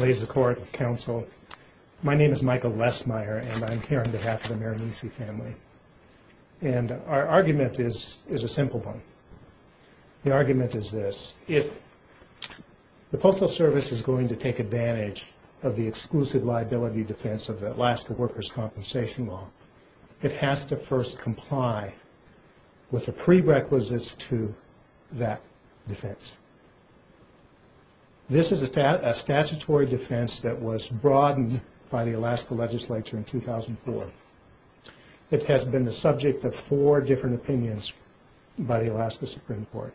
Ladies of the Court, Counsel, my name is Michael Lesmeyer and I'm here on behalf of the Marinese family. And our argument is a simple one. The argument is this. If the Postal Service is going to take advantage of the exclusive liability defense of the Alaska Workers' Compensation Law, it has to first comply with the prerequisites to that defense. This is a statutory defense that was broadened by the Alaska legislature in 2004. It has been the subject of four different opinions by the Alaska Supreme Court.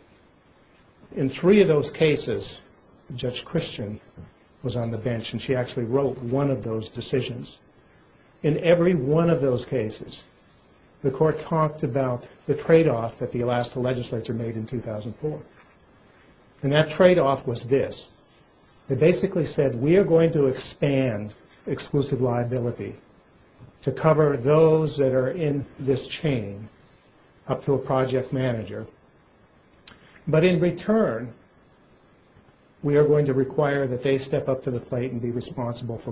In three of those cases, Judge Christian was on the court. In one of those cases, the court talked about the trade-off that the Alaska legislature made in 2004. And that trade-off was this. It basically said, we are going to expand exclusive liability to cover those that are in this chain up to a project manager. But in return, we are going to require that they step up to the plate and be responsible for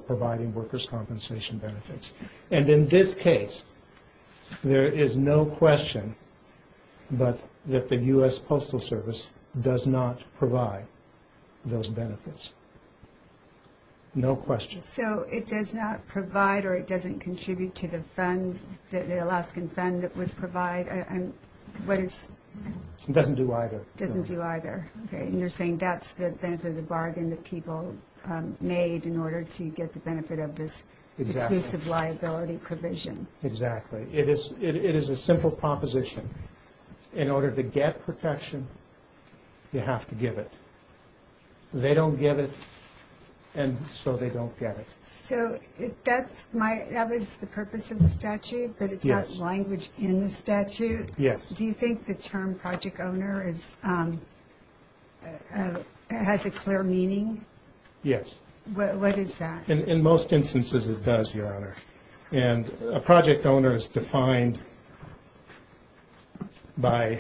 In this case, there is no question but that the U.S. Postal Service does not provide those benefits. No question. So it does not provide or it doesn't contribute to the fund, the Alaskan fund that would provide? It doesn't do either. It doesn't do either. And you're saying that's the benefit of the bargain that people made in order to get the benefit of this exclusive liability provision. Exactly. It is a simple proposition. In order to get protection, you have to give it. They don't give it, and so they don't get it. So that was the purpose of the statute, but it's not language in the statute. Yes. Do you think the term project owner has a clear meaning? Yes. What is that? In most instances, it does, Your Honor. And a project owner is defined by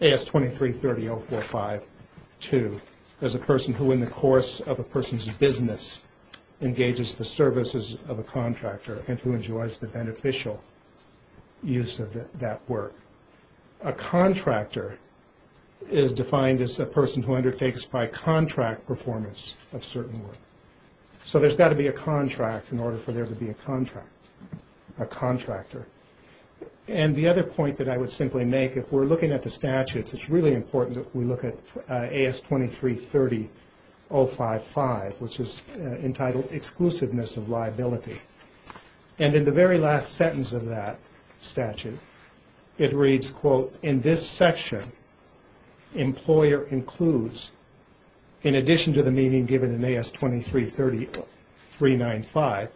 A.S. 2330.045.2 as a person who, in the course of a person's business, engages the services of a contractor and who enjoys the A contractor is defined as a person who undertakes by contract performance of certain work. So there's got to be a contract in order for there to be a contract, a contractor. And the other point that I would simply make, if we're looking at the statutes, it's really important that we look at A.S. 2330.055, which is entitled Exclusiveness of Liability. And in the very last sentence of that statute, it reads, quote, in this section, employer includes, in addition to the meaning given in A.S. 2330.395,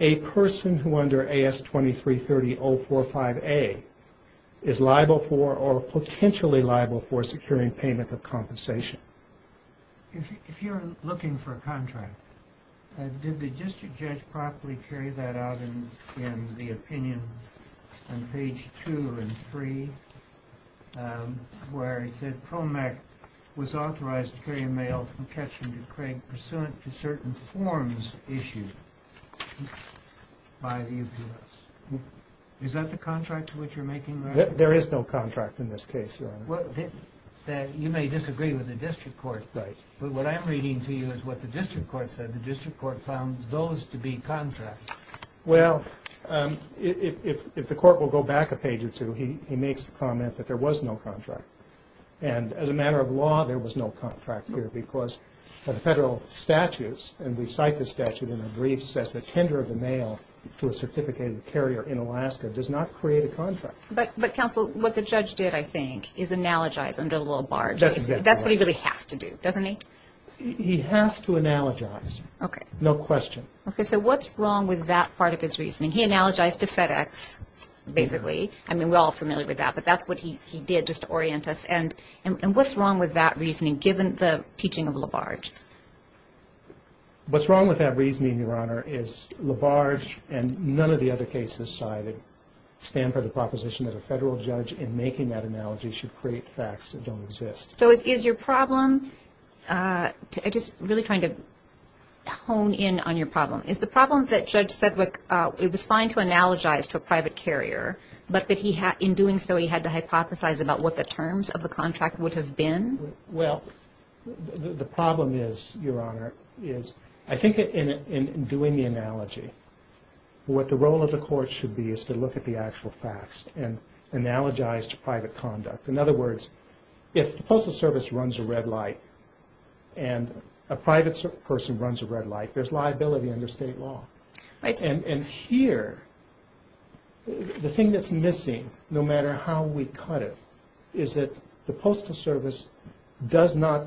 a person who under A.S. 2330.045a is liable for or potentially liable for securing payment of compensation. If you're looking for a contract, did the district judge properly carry that out in the opinion on page two and three, where he said PROMAC was authorized to carry a mail from Ketcham to Craig pursuant to certain forms issued by the U.P.S.? Is that the contract to which you're making reference? There is no contract in this case, Your Honor. You may disagree with the district court, but what I'm reading to you is what the district court said. The district court found those to be contracts. Well, if the court will go back a page or two, he makes the comment that there was no contract. And as a matter of law, there was no contract here, because the federal statutes, and we cite the statute in the brief, says that tender of the mail to a certificated carrier in Alaska does not create a contract. But, counsel, what the judge did, I think, is analogize under the little bar. That's what he really has to do, doesn't he? He has to analogize, no question. Okay, so what's wrong with that part of his reasoning? He analogized to FedEx, basically. I mean, we're all familiar with that, but that's what he did just to orient us. And what's wrong with that reasoning, given the teaching of Labarge? What's wrong with that reasoning, Your Honor, is Labarge and none of the other cases cited stand for the proposition that a federal judge in making that analogy should create facts that don't exist. So is your problem, just really trying to hone in on your problem, is the problem that Judge Sedgwick, it was fine to analogize to a private carrier, but that in doing so, he had to hypothesize about what the terms of the contract would have been? Well, the problem is, Your Honor, is I think that in doing the analogy, what the role of the court should be is to look at the actual facts and analogize to private conduct. In other words, if the Postal Service runs a red light and a private person runs a red light, there's liability under state law. And here, the thing that's missing, no matter how we cut it, is that the Postal Service does not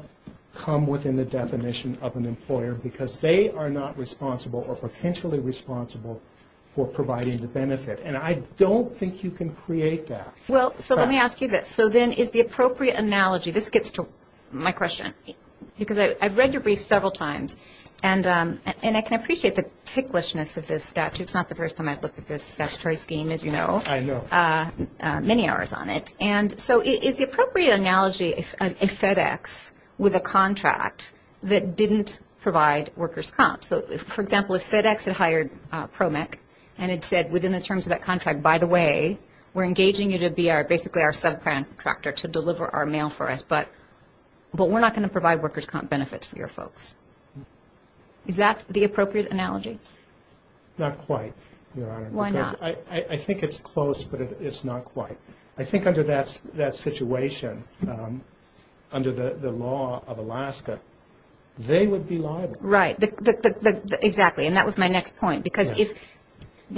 come within the definition of an employer because they are not responsible or potentially responsible for providing the benefit. And I don't think you can create that. Well, so let me ask you this. So then is the appropriate analogy, this gets to my question, because I've read your brief several times and I can appreciate the ticklishness of this statute. It's not the first time I've looked at this statutory scheme, as you know. I know. Many hours on it. And so is the appropriate analogy a FedEx with a contract that didn't provide workers' comps? So, for example, if FedEx had hired PROMEC and it said within the terms of that contract, by the way, we're engaging you to be basically our subcontractor to deliver our mail for us, but we're not going to provide workers' comp benefits for your folks. Is that the appropriate analogy? Not quite, Your Honor. Why not? Because I think it's close, but it's not quite. I think under that situation, under the law of Alaska, they would be liable. Right. Exactly. And that was my next point. Because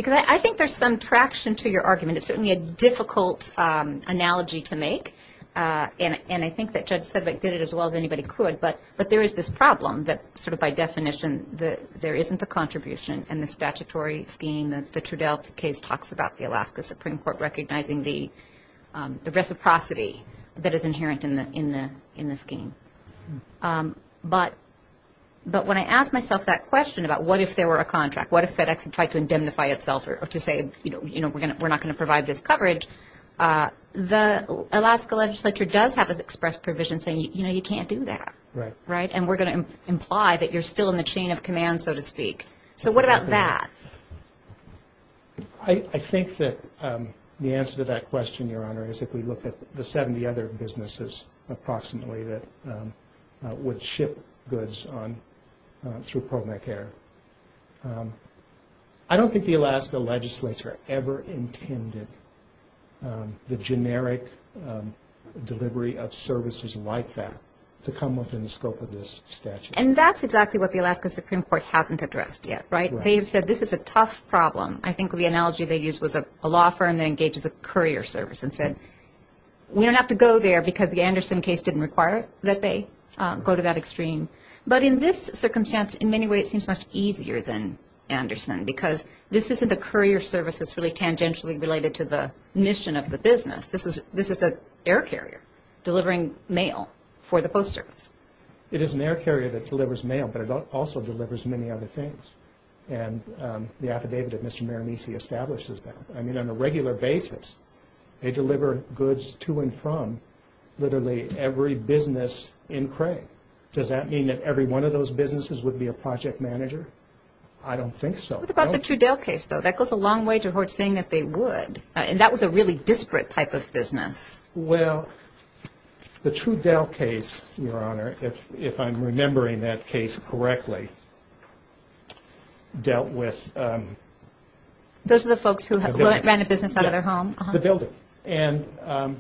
I think there's some traction to your argument. It's certainly a difficult analogy to make. And I think that Judge Sedgwick did it as well as anybody could. But there is this problem that sort of by definition there isn't the contribution and the statutory scheme. The Trudell case talks about the Alaska Supreme Court recognizing the reciprocity that is inherent in the scheme. But when I ask myself that question about what if there were a contract, what if FedEx had tried to indemnify itself or to say we're not going to provide this coverage, the Alaska legislature does have this express provision saying you can't do that. Right. And we're going to imply that you're still in the chain of command, so to speak. So what about that? I think that the answer to that question, Your Honor, is if we look at the 70 other businesses, approximately, that would ship goods through ProMec Air, I don't think the Alaska legislature ever intended the generic delivery of services like that to come within the scope of this statute. And that's exactly what the Alaska Supreme Court hasn't addressed yet. Right. They have said this is a tough problem. I think the analogy they used was a law firm that engages a courier service and said we don't have to go there because the Anderson case didn't require that they go to that extreme. But in this circumstance, in many ways, it seems much easier than Anderson because this isn't a courier service that's really tangentially related to the mission of the business. This is an air carrier delivering mail for the post service. It is an air carrier that delivers mail, but it also delivers many other things. And the affidavit of Mr. Miramese establishes that. I mean, on a regular basis, they deliver goods to and from literally every business in Cray. Does that mean that every one of those businesses would be a project manager? I don't think so. What about the Trudell case, though? That goes a long way toward saying that they would. And that was a really disparate type of business. Well, the Trudell case, Your Honor, if I'm remembering that case correctly, dealt with the building.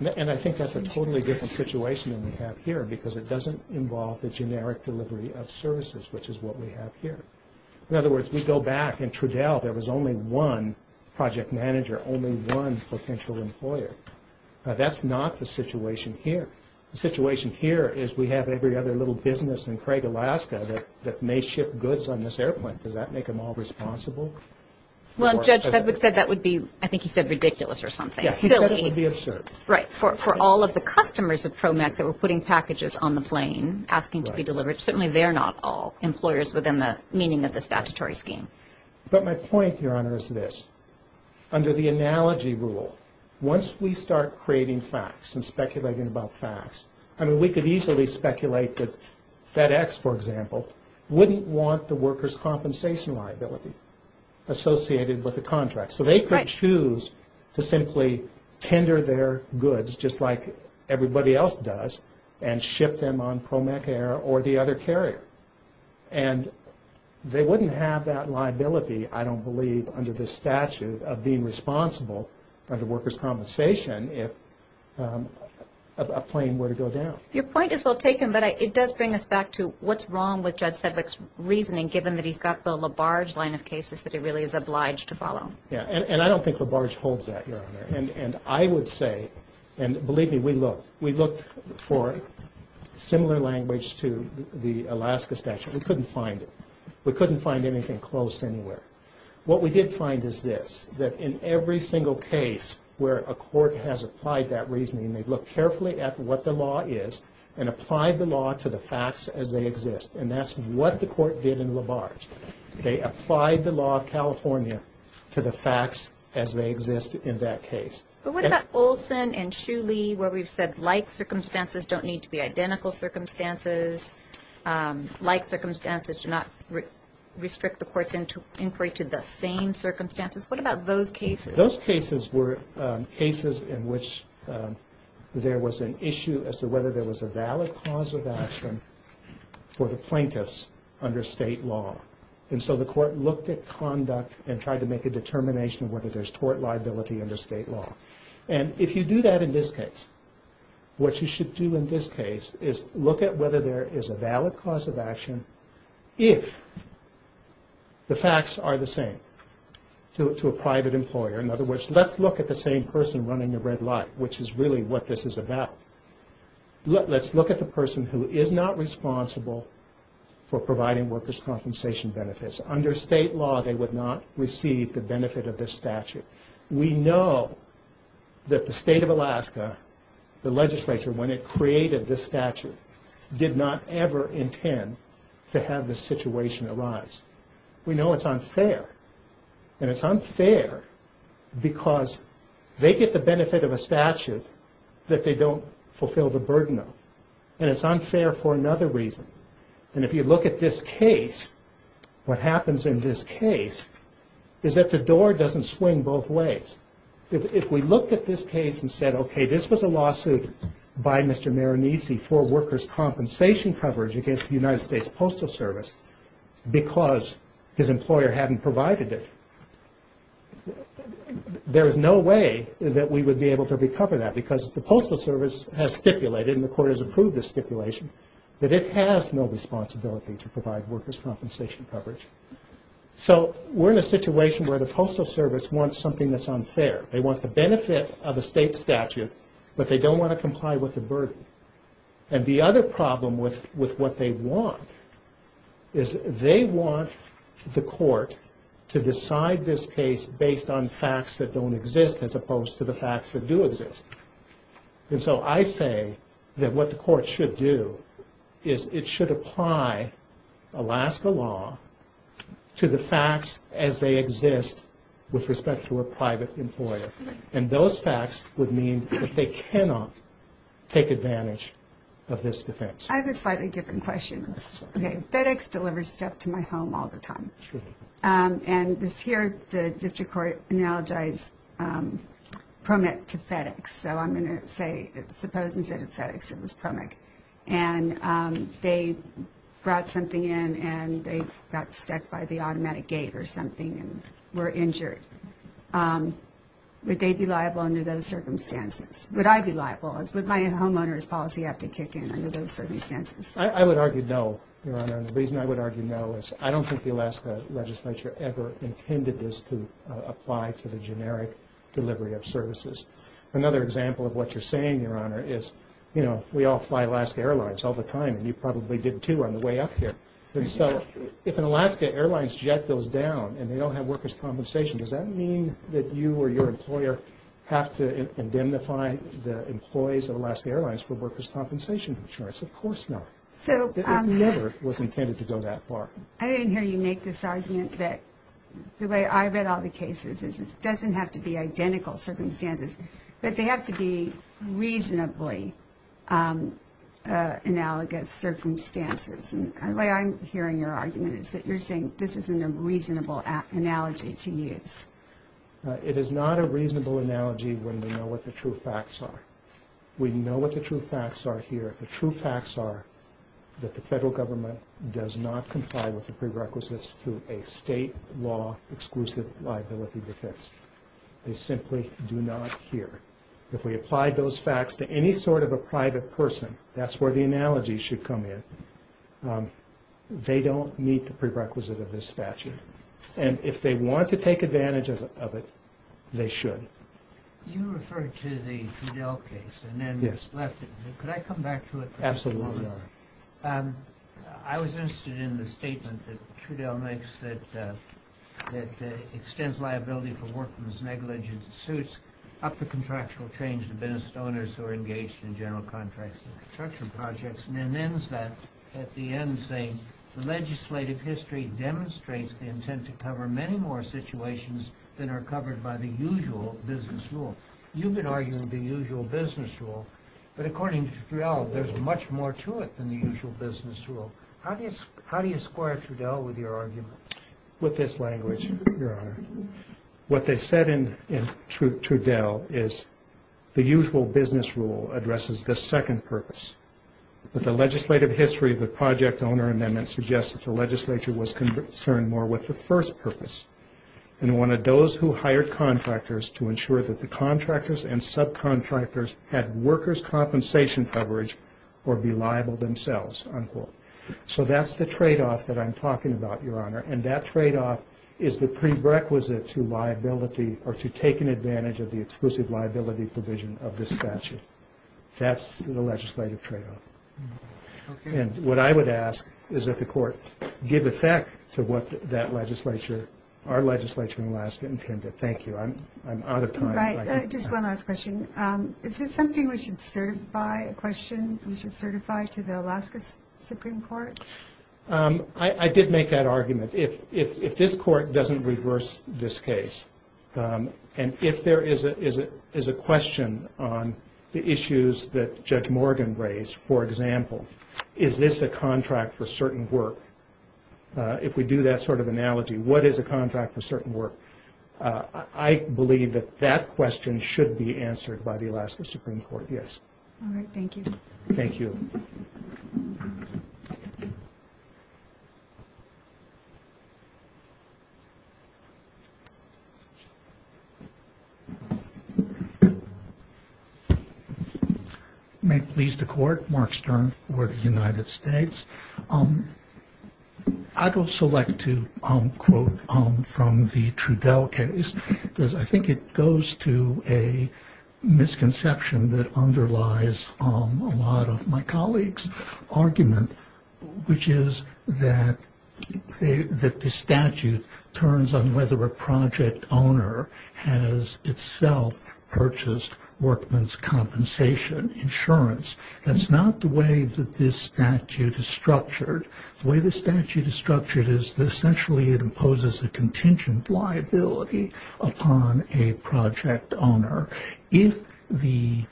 And I think that's a totally different situation than we have here because it doesn't involve the generic delivery of services, which is what we have here. In other That's not the situation here. The situation here is we have every other little business in Craig, Alaska that may ship goods on this airplane. Does that make them all responsible? Well, Judge Sedgwick said that would be, I think he said ridiculous or something. Yes, he said it would be absurd. Right. For all of the customers of ProMech that were putting packages on the plane asking to be delivered, certainly they're not all employers within the meaning of the statutory scheme. But my point, Your Honor, is this. Under the analogy rule, once we start creating facts and speculating about facts, I mean, we could easily speculate that FedEx, for example, wouldn't want the workers' compensation liability associated with the contract. So they could choose to simply tender their goods just like everybody else does and ship them on ProMech air or the other carrier. And they wouldn't have that liability, I don't believe, under the statute of being responsible under workers' compensation if a plane were to go down. Your point is well taken, but it does bring us back to what's wrong with Judge Sedgwick's reasoning given that he's got the Labarge line of cases that he really is obliged to follow. Yeah. And I don't think Labarge holds that, Your Honor. And I would say, and believe me, we looked. We looked for similar language to the Alaska statute. We couldn't find it. We couldn't find anything close anywhere. What we did find is this, that in every single case where a court has applied that reasoning, they've looked carefully at what the law is and applied the law to the facts as they exist. And that's what the court did in Labarge. They applied the law of California to the facts as they exist in that case. But what about Olson and Shuley where we've said like circumstances don't need to be identical circumstances, like circumstances do not restrict the court's inquiry to the same circumstances? What about those cases? Those cases were cases in which there was an issue as to whether there was a valid cause of action for the plaintiffs under state law. And so the court looked at conduct and tried to make a determination whether there's tort liability under state law. And if you do that in this case, what you should do in this case is look at whether there is a valid cause of action if the facts are the same to a private employer. In other words, let's look at the same person running the red light, which is really what this is about. Let's look at the person who is not responsible for providing workers' compensation benefits. Under state law, they would not receive the benefit of this statute. We know that the state of Alaska, the legislature, when it created this statute, did not ever intend to have this situation arise. We know it's unfair. And it's unfair because they get the benefit of a statute that they don't fulfill the burden of. And it's unfair for another reason. And if you look at this case, what happens in this case is that the door doesn't swing both ways. If we looked at this case and said, okay, this was a lawsuit by Mr. Marinisi for workers' compensation coverage against the United States Postal Service because his employer hadn't provided it, there is no way that we would be able to recover that because the Postal Service doesn't have the authority to provide workers' compensation coverage. So we're in a situation where the Postal Service wants something that's unfair. They want the benefit of a state statute, but they don't want to comply with the burden. And the other problem with what they want is they want the court to decide this case based on facts that don't exist as opposed to the facts that do exist. And so I say that what the court should do is it should apply Alaska law to the facts as they exist with respect to a private employer. And those facts would mean that they cannot take advantage of this defense. I have a slightly different question. FedEx delivers stuff to my home all the time. And this here, the district court analogized PROMEC to FedEx. So I'm going to say, suppose instead of FedEx it was PROMEC. And they brought something in and they got stuck by the automatic gate or something and were injured. Would they be liable under those circumstances? Would I be liable? Would my homeowner's policy have to kick in under those circumstances? I would argue no, Your Honor. And the reason I would argue no is I don't think the Alaska legislature ever intended this to apply to the generic delivery of services. Another example of what you're saying, Your Honor, is, you know, we all fly Alaska Airlines all the time. And you probably did too on the way up here. And so if an Alaska Airlines jet goes down and they don't have workers' compensation, does that mean that you or your employer have to indemnify the employees of Alaska Airlines for workers' compensation insurance? Of course not. It never was intended to go that far. I didn't hear you make this argument that the way I read all the cases is it doesn't have to be identical circumstances, but they have to be reasonably analogous circumstances. And the way I'm hearing your argument is that you're saying this isn't a reasonable analogy to use. It is not a reasonable analogy when we know what the true facts are. We know what the true facts are here. The true facts are that the federal government does not comply with the prerequisites to a state law exclusive liability defense. They simply do not here. If we apply those facts to any sort of a private person, that's where the analogy should come in. They don't meet the prerequisite of this statute. And if they want to take advantage of it, they should. You referred to the Trudell case and then left it. Could I come back to it for just a moment? Absolutely, Your Honor. I was interested in the statement that Trudell makes that extends liability for workmen's negligent suits up to contractual change to business owners who are engaged in general contracts and construction projects, and then ends that at the end saying the legislative history demonstrates the intent to cover many more situations than are covered by the usual business rule. You've been arguing the usual business rule, but according to Trudell, there's much more to it than the usual business rule. How do you square Trudell with your argument? With this language, Your Honor. What they said in Trudell is the usual business rule addresses the second purpose, but the legislative history of the project owner amendment suggests that the legislature was concerned more with the first purpose and wanted those who hired contractors to ensure that the contractors and subcontractors had workers' compensation coverage or be liable themselves, unquote. So that's the tradeoff that I'm talking about, Your Honor, and that tradeoff is the prerequisite to liability or to taking advantage of the exclusive liability provision of this statute. That's the legislative tradeoff. Okay. And what I would ask is that the Court give effect to what that legislature, our legislature in Alaska, intended. Thank you. I'm out of time. Right. Just one last question. Is this something we should certify, a question we should certify to the Alaska Supreme Court? I did make that argument. If this Court doesn't reverse this case, and if there is a question on the issues that Judge Morgan raised, for example, is this a contract for certain work? If we do that sort of analogy, what is a contract for certain work? I believe that that question should be answered by the Alaska Supreme Court, yes. All right. Thank you. Thank you. May it please the Court, Mark Stern for the United States. I'd also like to quote from the Trudell case, because I think it goes to a misconception that underlies the fact a lot of my colleagues' argument, which is that the statute turns on whether a project owner has itself purchased workman's compensation insurance. That's not the way that this statute is structured. The way the statute is structured is essentially it imposes a contingent liability upon a project owner. If the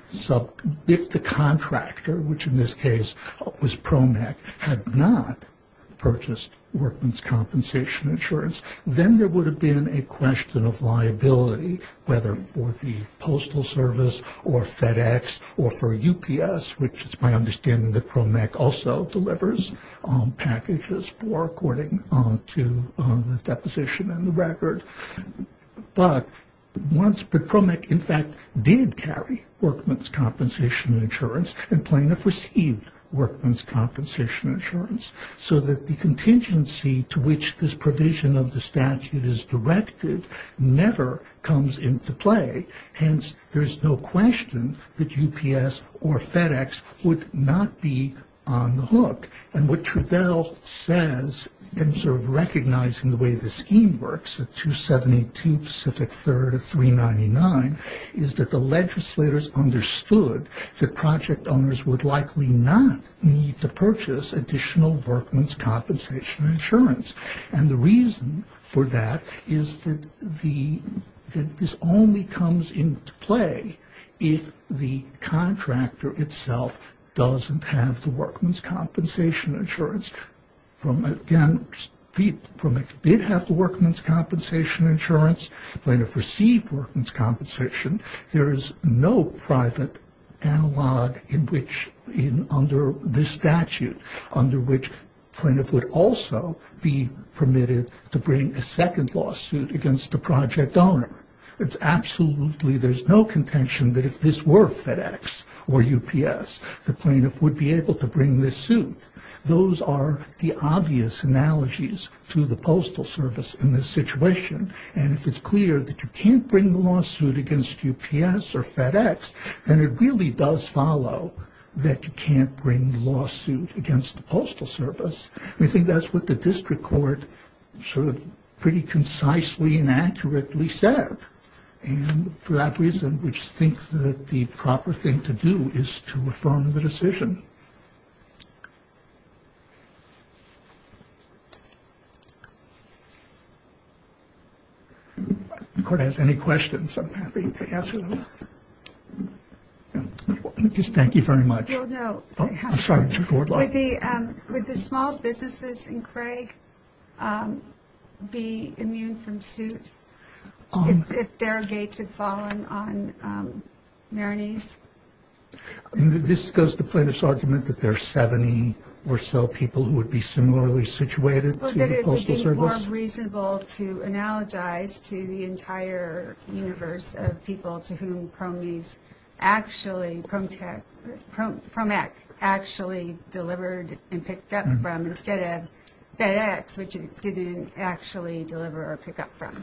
contractor, which in this case was PROMEC, had not purchased workman's compensation insurance, then there would have been a question of liability, whether for the Postal Service or FedEx or for UPS, which is my understanding that PROMEC also did carry workman's compensation insurance and plaintiff received workman's compensation insurance. So that the contingency to which this provision of the statute is directed never comes into play. Hence, there's no question that UPS or FedEx would not be on the hook. And what Trudell says in sort of recognizing the way the scheme works, at 272 Pacific 3rd of 399, is that the legislators understood that project owners would likely not need to purchase additional workman's compensation insurance. And the reason for that is that this only comes into play if the contractor itself doesn't have the workman's compensation insurance. Again, PROMEC did have the workman's compensation insurance, plaintiff received workman's compensation. There is no private analog in which, under this statute, under which plaintiff would also be permitted to bring a second lawsuit against the project owner. It's absolutely, there's no contention that if this were FedEx or UPS, the plaintiff would be able to bring this suit. Those are the obvious analogies to the postal service in this situation. And if it's clear that you can't bring the lawsuit against UPS or FedEx, then it really does follow that you can't bring the lawsuit against the postal service. I think that's what the district court sort of pretty concisely and accurately said. And for that reason, we think that the proper thing to do is to affirm the decision. If the court has any questions, I'm happy to answer them. Thank you very much. Oh, no. I'm sorry. Would the small businesses in Craig be immune from suit? If their gates had fallen on Maroney's? This goes to plaintiff's argument that there are 70 or so people who would be similarly situated to the postal service? Well, then it would be more reasonable to analogize to the entire universe of people to whom Promex actually delivered and picked up from instead of FedEx, which it didn't actually deliver or pick up from.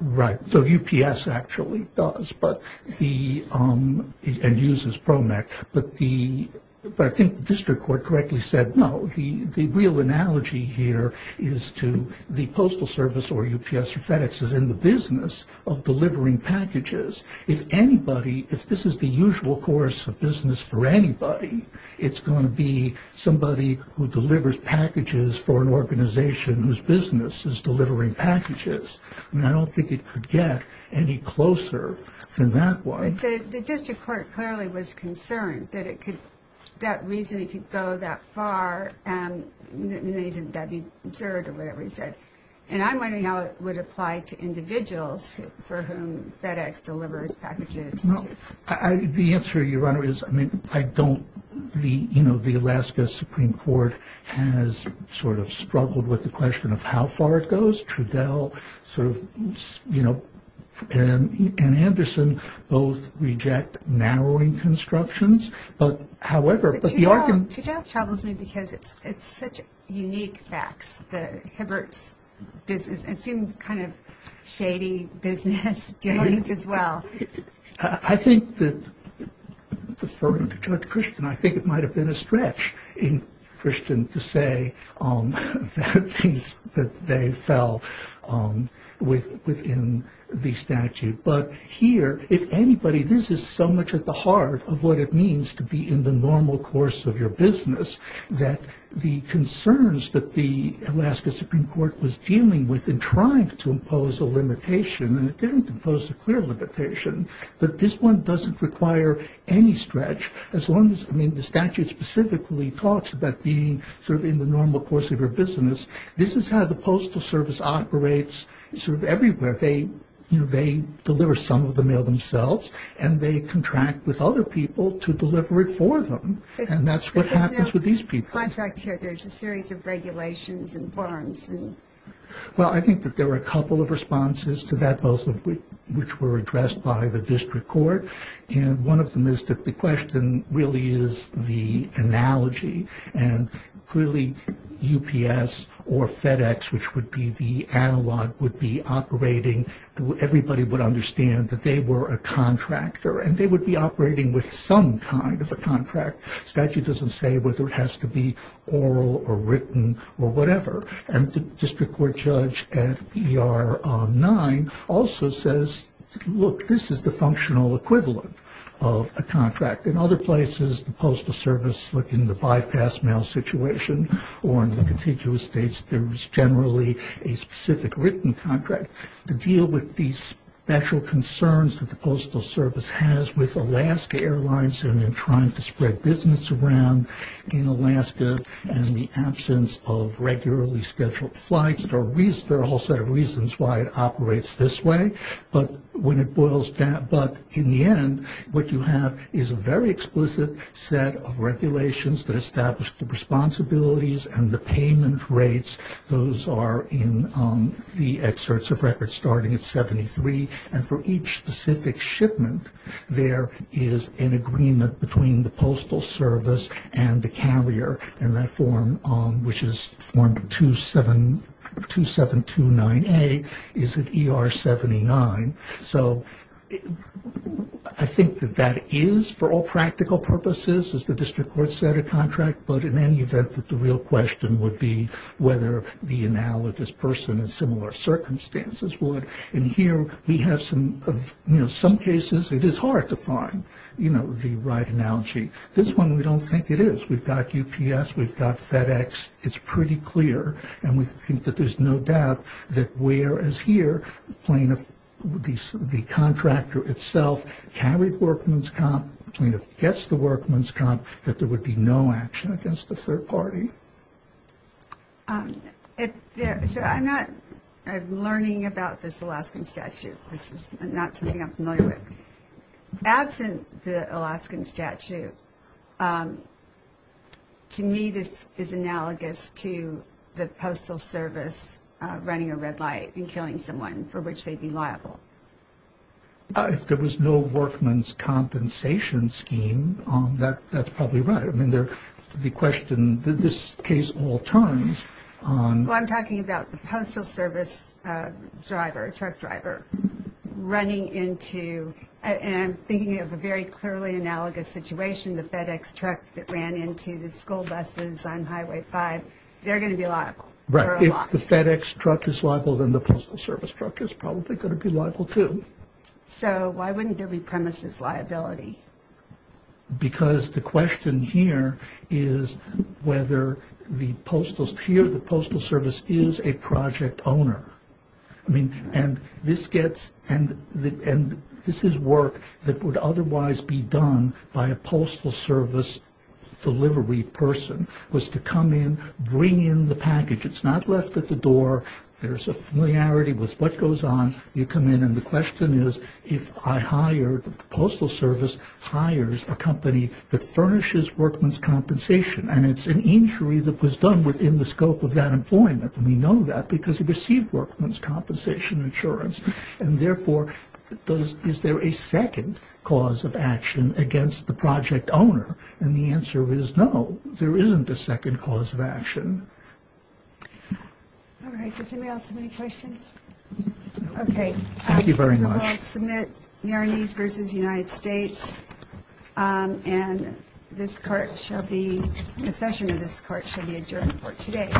Right. So UPS actually does and uses Promex. But I think the district court correctly said, no, the real analogy here is to the postal service or UPS or FedEx is in the business of delivering packages. If anybody, if this is the usual course of business for anybody, it's going to be somebody who delivers packages for an organization whose business is delivering packages. I don't think it could get any closer than that one. The district court clearly was concerned that it could, that reason it could go that far and that would be absurd or whatever he said. And I'm wondering how it would apply to individuals for whom FedEx delivers packages. The answer, Your Honor, is I mean, I don't, you know, the Alaska Supreme Court has sort of struggled with the question of how far it goes. Trudell sort of, you know, and Anderson both reject narrowing constructions. But, however, but the argument- Trudell troubles me because it's such unique facts that Hibbert's business, it seems kind of shady business dealings as well. I think that, deferring to Judge Christen, I think it might have been a stretch in Christen to say that they fell within the statute. But here, if anybody, this is so much at the heart of what it means to be in the normal course of your business that the concerns that the Alaska Supreme Court was dealing with in trying to impose a limitation, and it didn't impose a clear limitation, but this one doesn't require any stretch, as long as, I mean, the statute specifically talks about being sort of in the normal course of your business. This is how the Postal Service operates sort of everywhere. They, you know, they deliver some of the mail themselves, and they contract with other people to deliver it for them. And that's what happens with these people. But there's no contract here. There's a series of regulations and forms and- Well, I think that there were a couple of responses to that, both of which were addressed by the District Court. And one of them is that the question really is the analogy. And clearly, UPS or FedEx, which would be the analog, would be operating, everybody would understand that they were a contractor. And they would be operating with some kind of a contract. The statute doesn't say whether it has to be oral or written or whatever. And the District Court judge at ER-9 also says, look, this is the functional equivalent of a contract. In other places, the Postal Service, look, in the bypass mail situation or in the contiguous states, there's generally a specific written contract to deal with these special concerns that the Postal Service has with Alaska Airlines and in trying to spread fully scheduled flights. There are a whole set of reasons why it operates this way. But when it boils down- But in the end, what you have is a very explicit set of regulations that establish the responsibilities and the payment rates. Those are in the excerpts of records starting at 73. And for each specific shipment, there is an agreement between the District Court and 2729A is at ER-79. So I think that that is, for all practical purposes, as the District Court set a contract. But in any event, the real question would be whether the analogous person in similar circumstances would. And here, we have some cases. It is hard to find the right analogy. This one, we don't think it is. We've got UPS. We've got FedEx. It's pretty clear. And we think that there's no doubt that whereas here, the contractor itself carried workman's comp, the plaintiff gets the workman's comp, that there would be no action against the third party. So I'm not learning about this Alaskan statute. This is not something I'm familiar with. Absent the Alaskan statute, to me, this is analogous to the Postal Service running a red light and killing someone for which they'd be liable. If there was no workman's compensation scheme, that's probably right. I mean, the question, this case all turns on... Well, I'm talking about the Postal Service driver, truck driver, running into... And thinking of a very clearly analogous situation, the FedEx truck that ran into the school buses on Highway 5, they're going to be liable. Right. If the FedEx truck is liable, then the Postal Service truck is probably going to be liable, too. So why wouldn't there be premises liability? Because the question here is whether the Postal... Here, the Postal Service is a project owner. I mean, and this gets... And this is work that would otherwise be done by a Postal Service delivery person, was to come in, bring in the package. It's not left at the door. There's a familiarity with what goes on. You come in, and the question is, if I hire, the Postal Service hires a company that furnishes workman's compensation, and it's an injury that was done within the scope of that employment, and we know that because it received workman's compensation insurance, and therefore, is there a second cause of action against the project owner? And the answer is no, there isn't a second cause of action. All right. Does anybody else have any questions? No. Okay. Thank you very much. I will submit Marinese v. United States, and this court shall be... The session of this hearing is adjourned for today.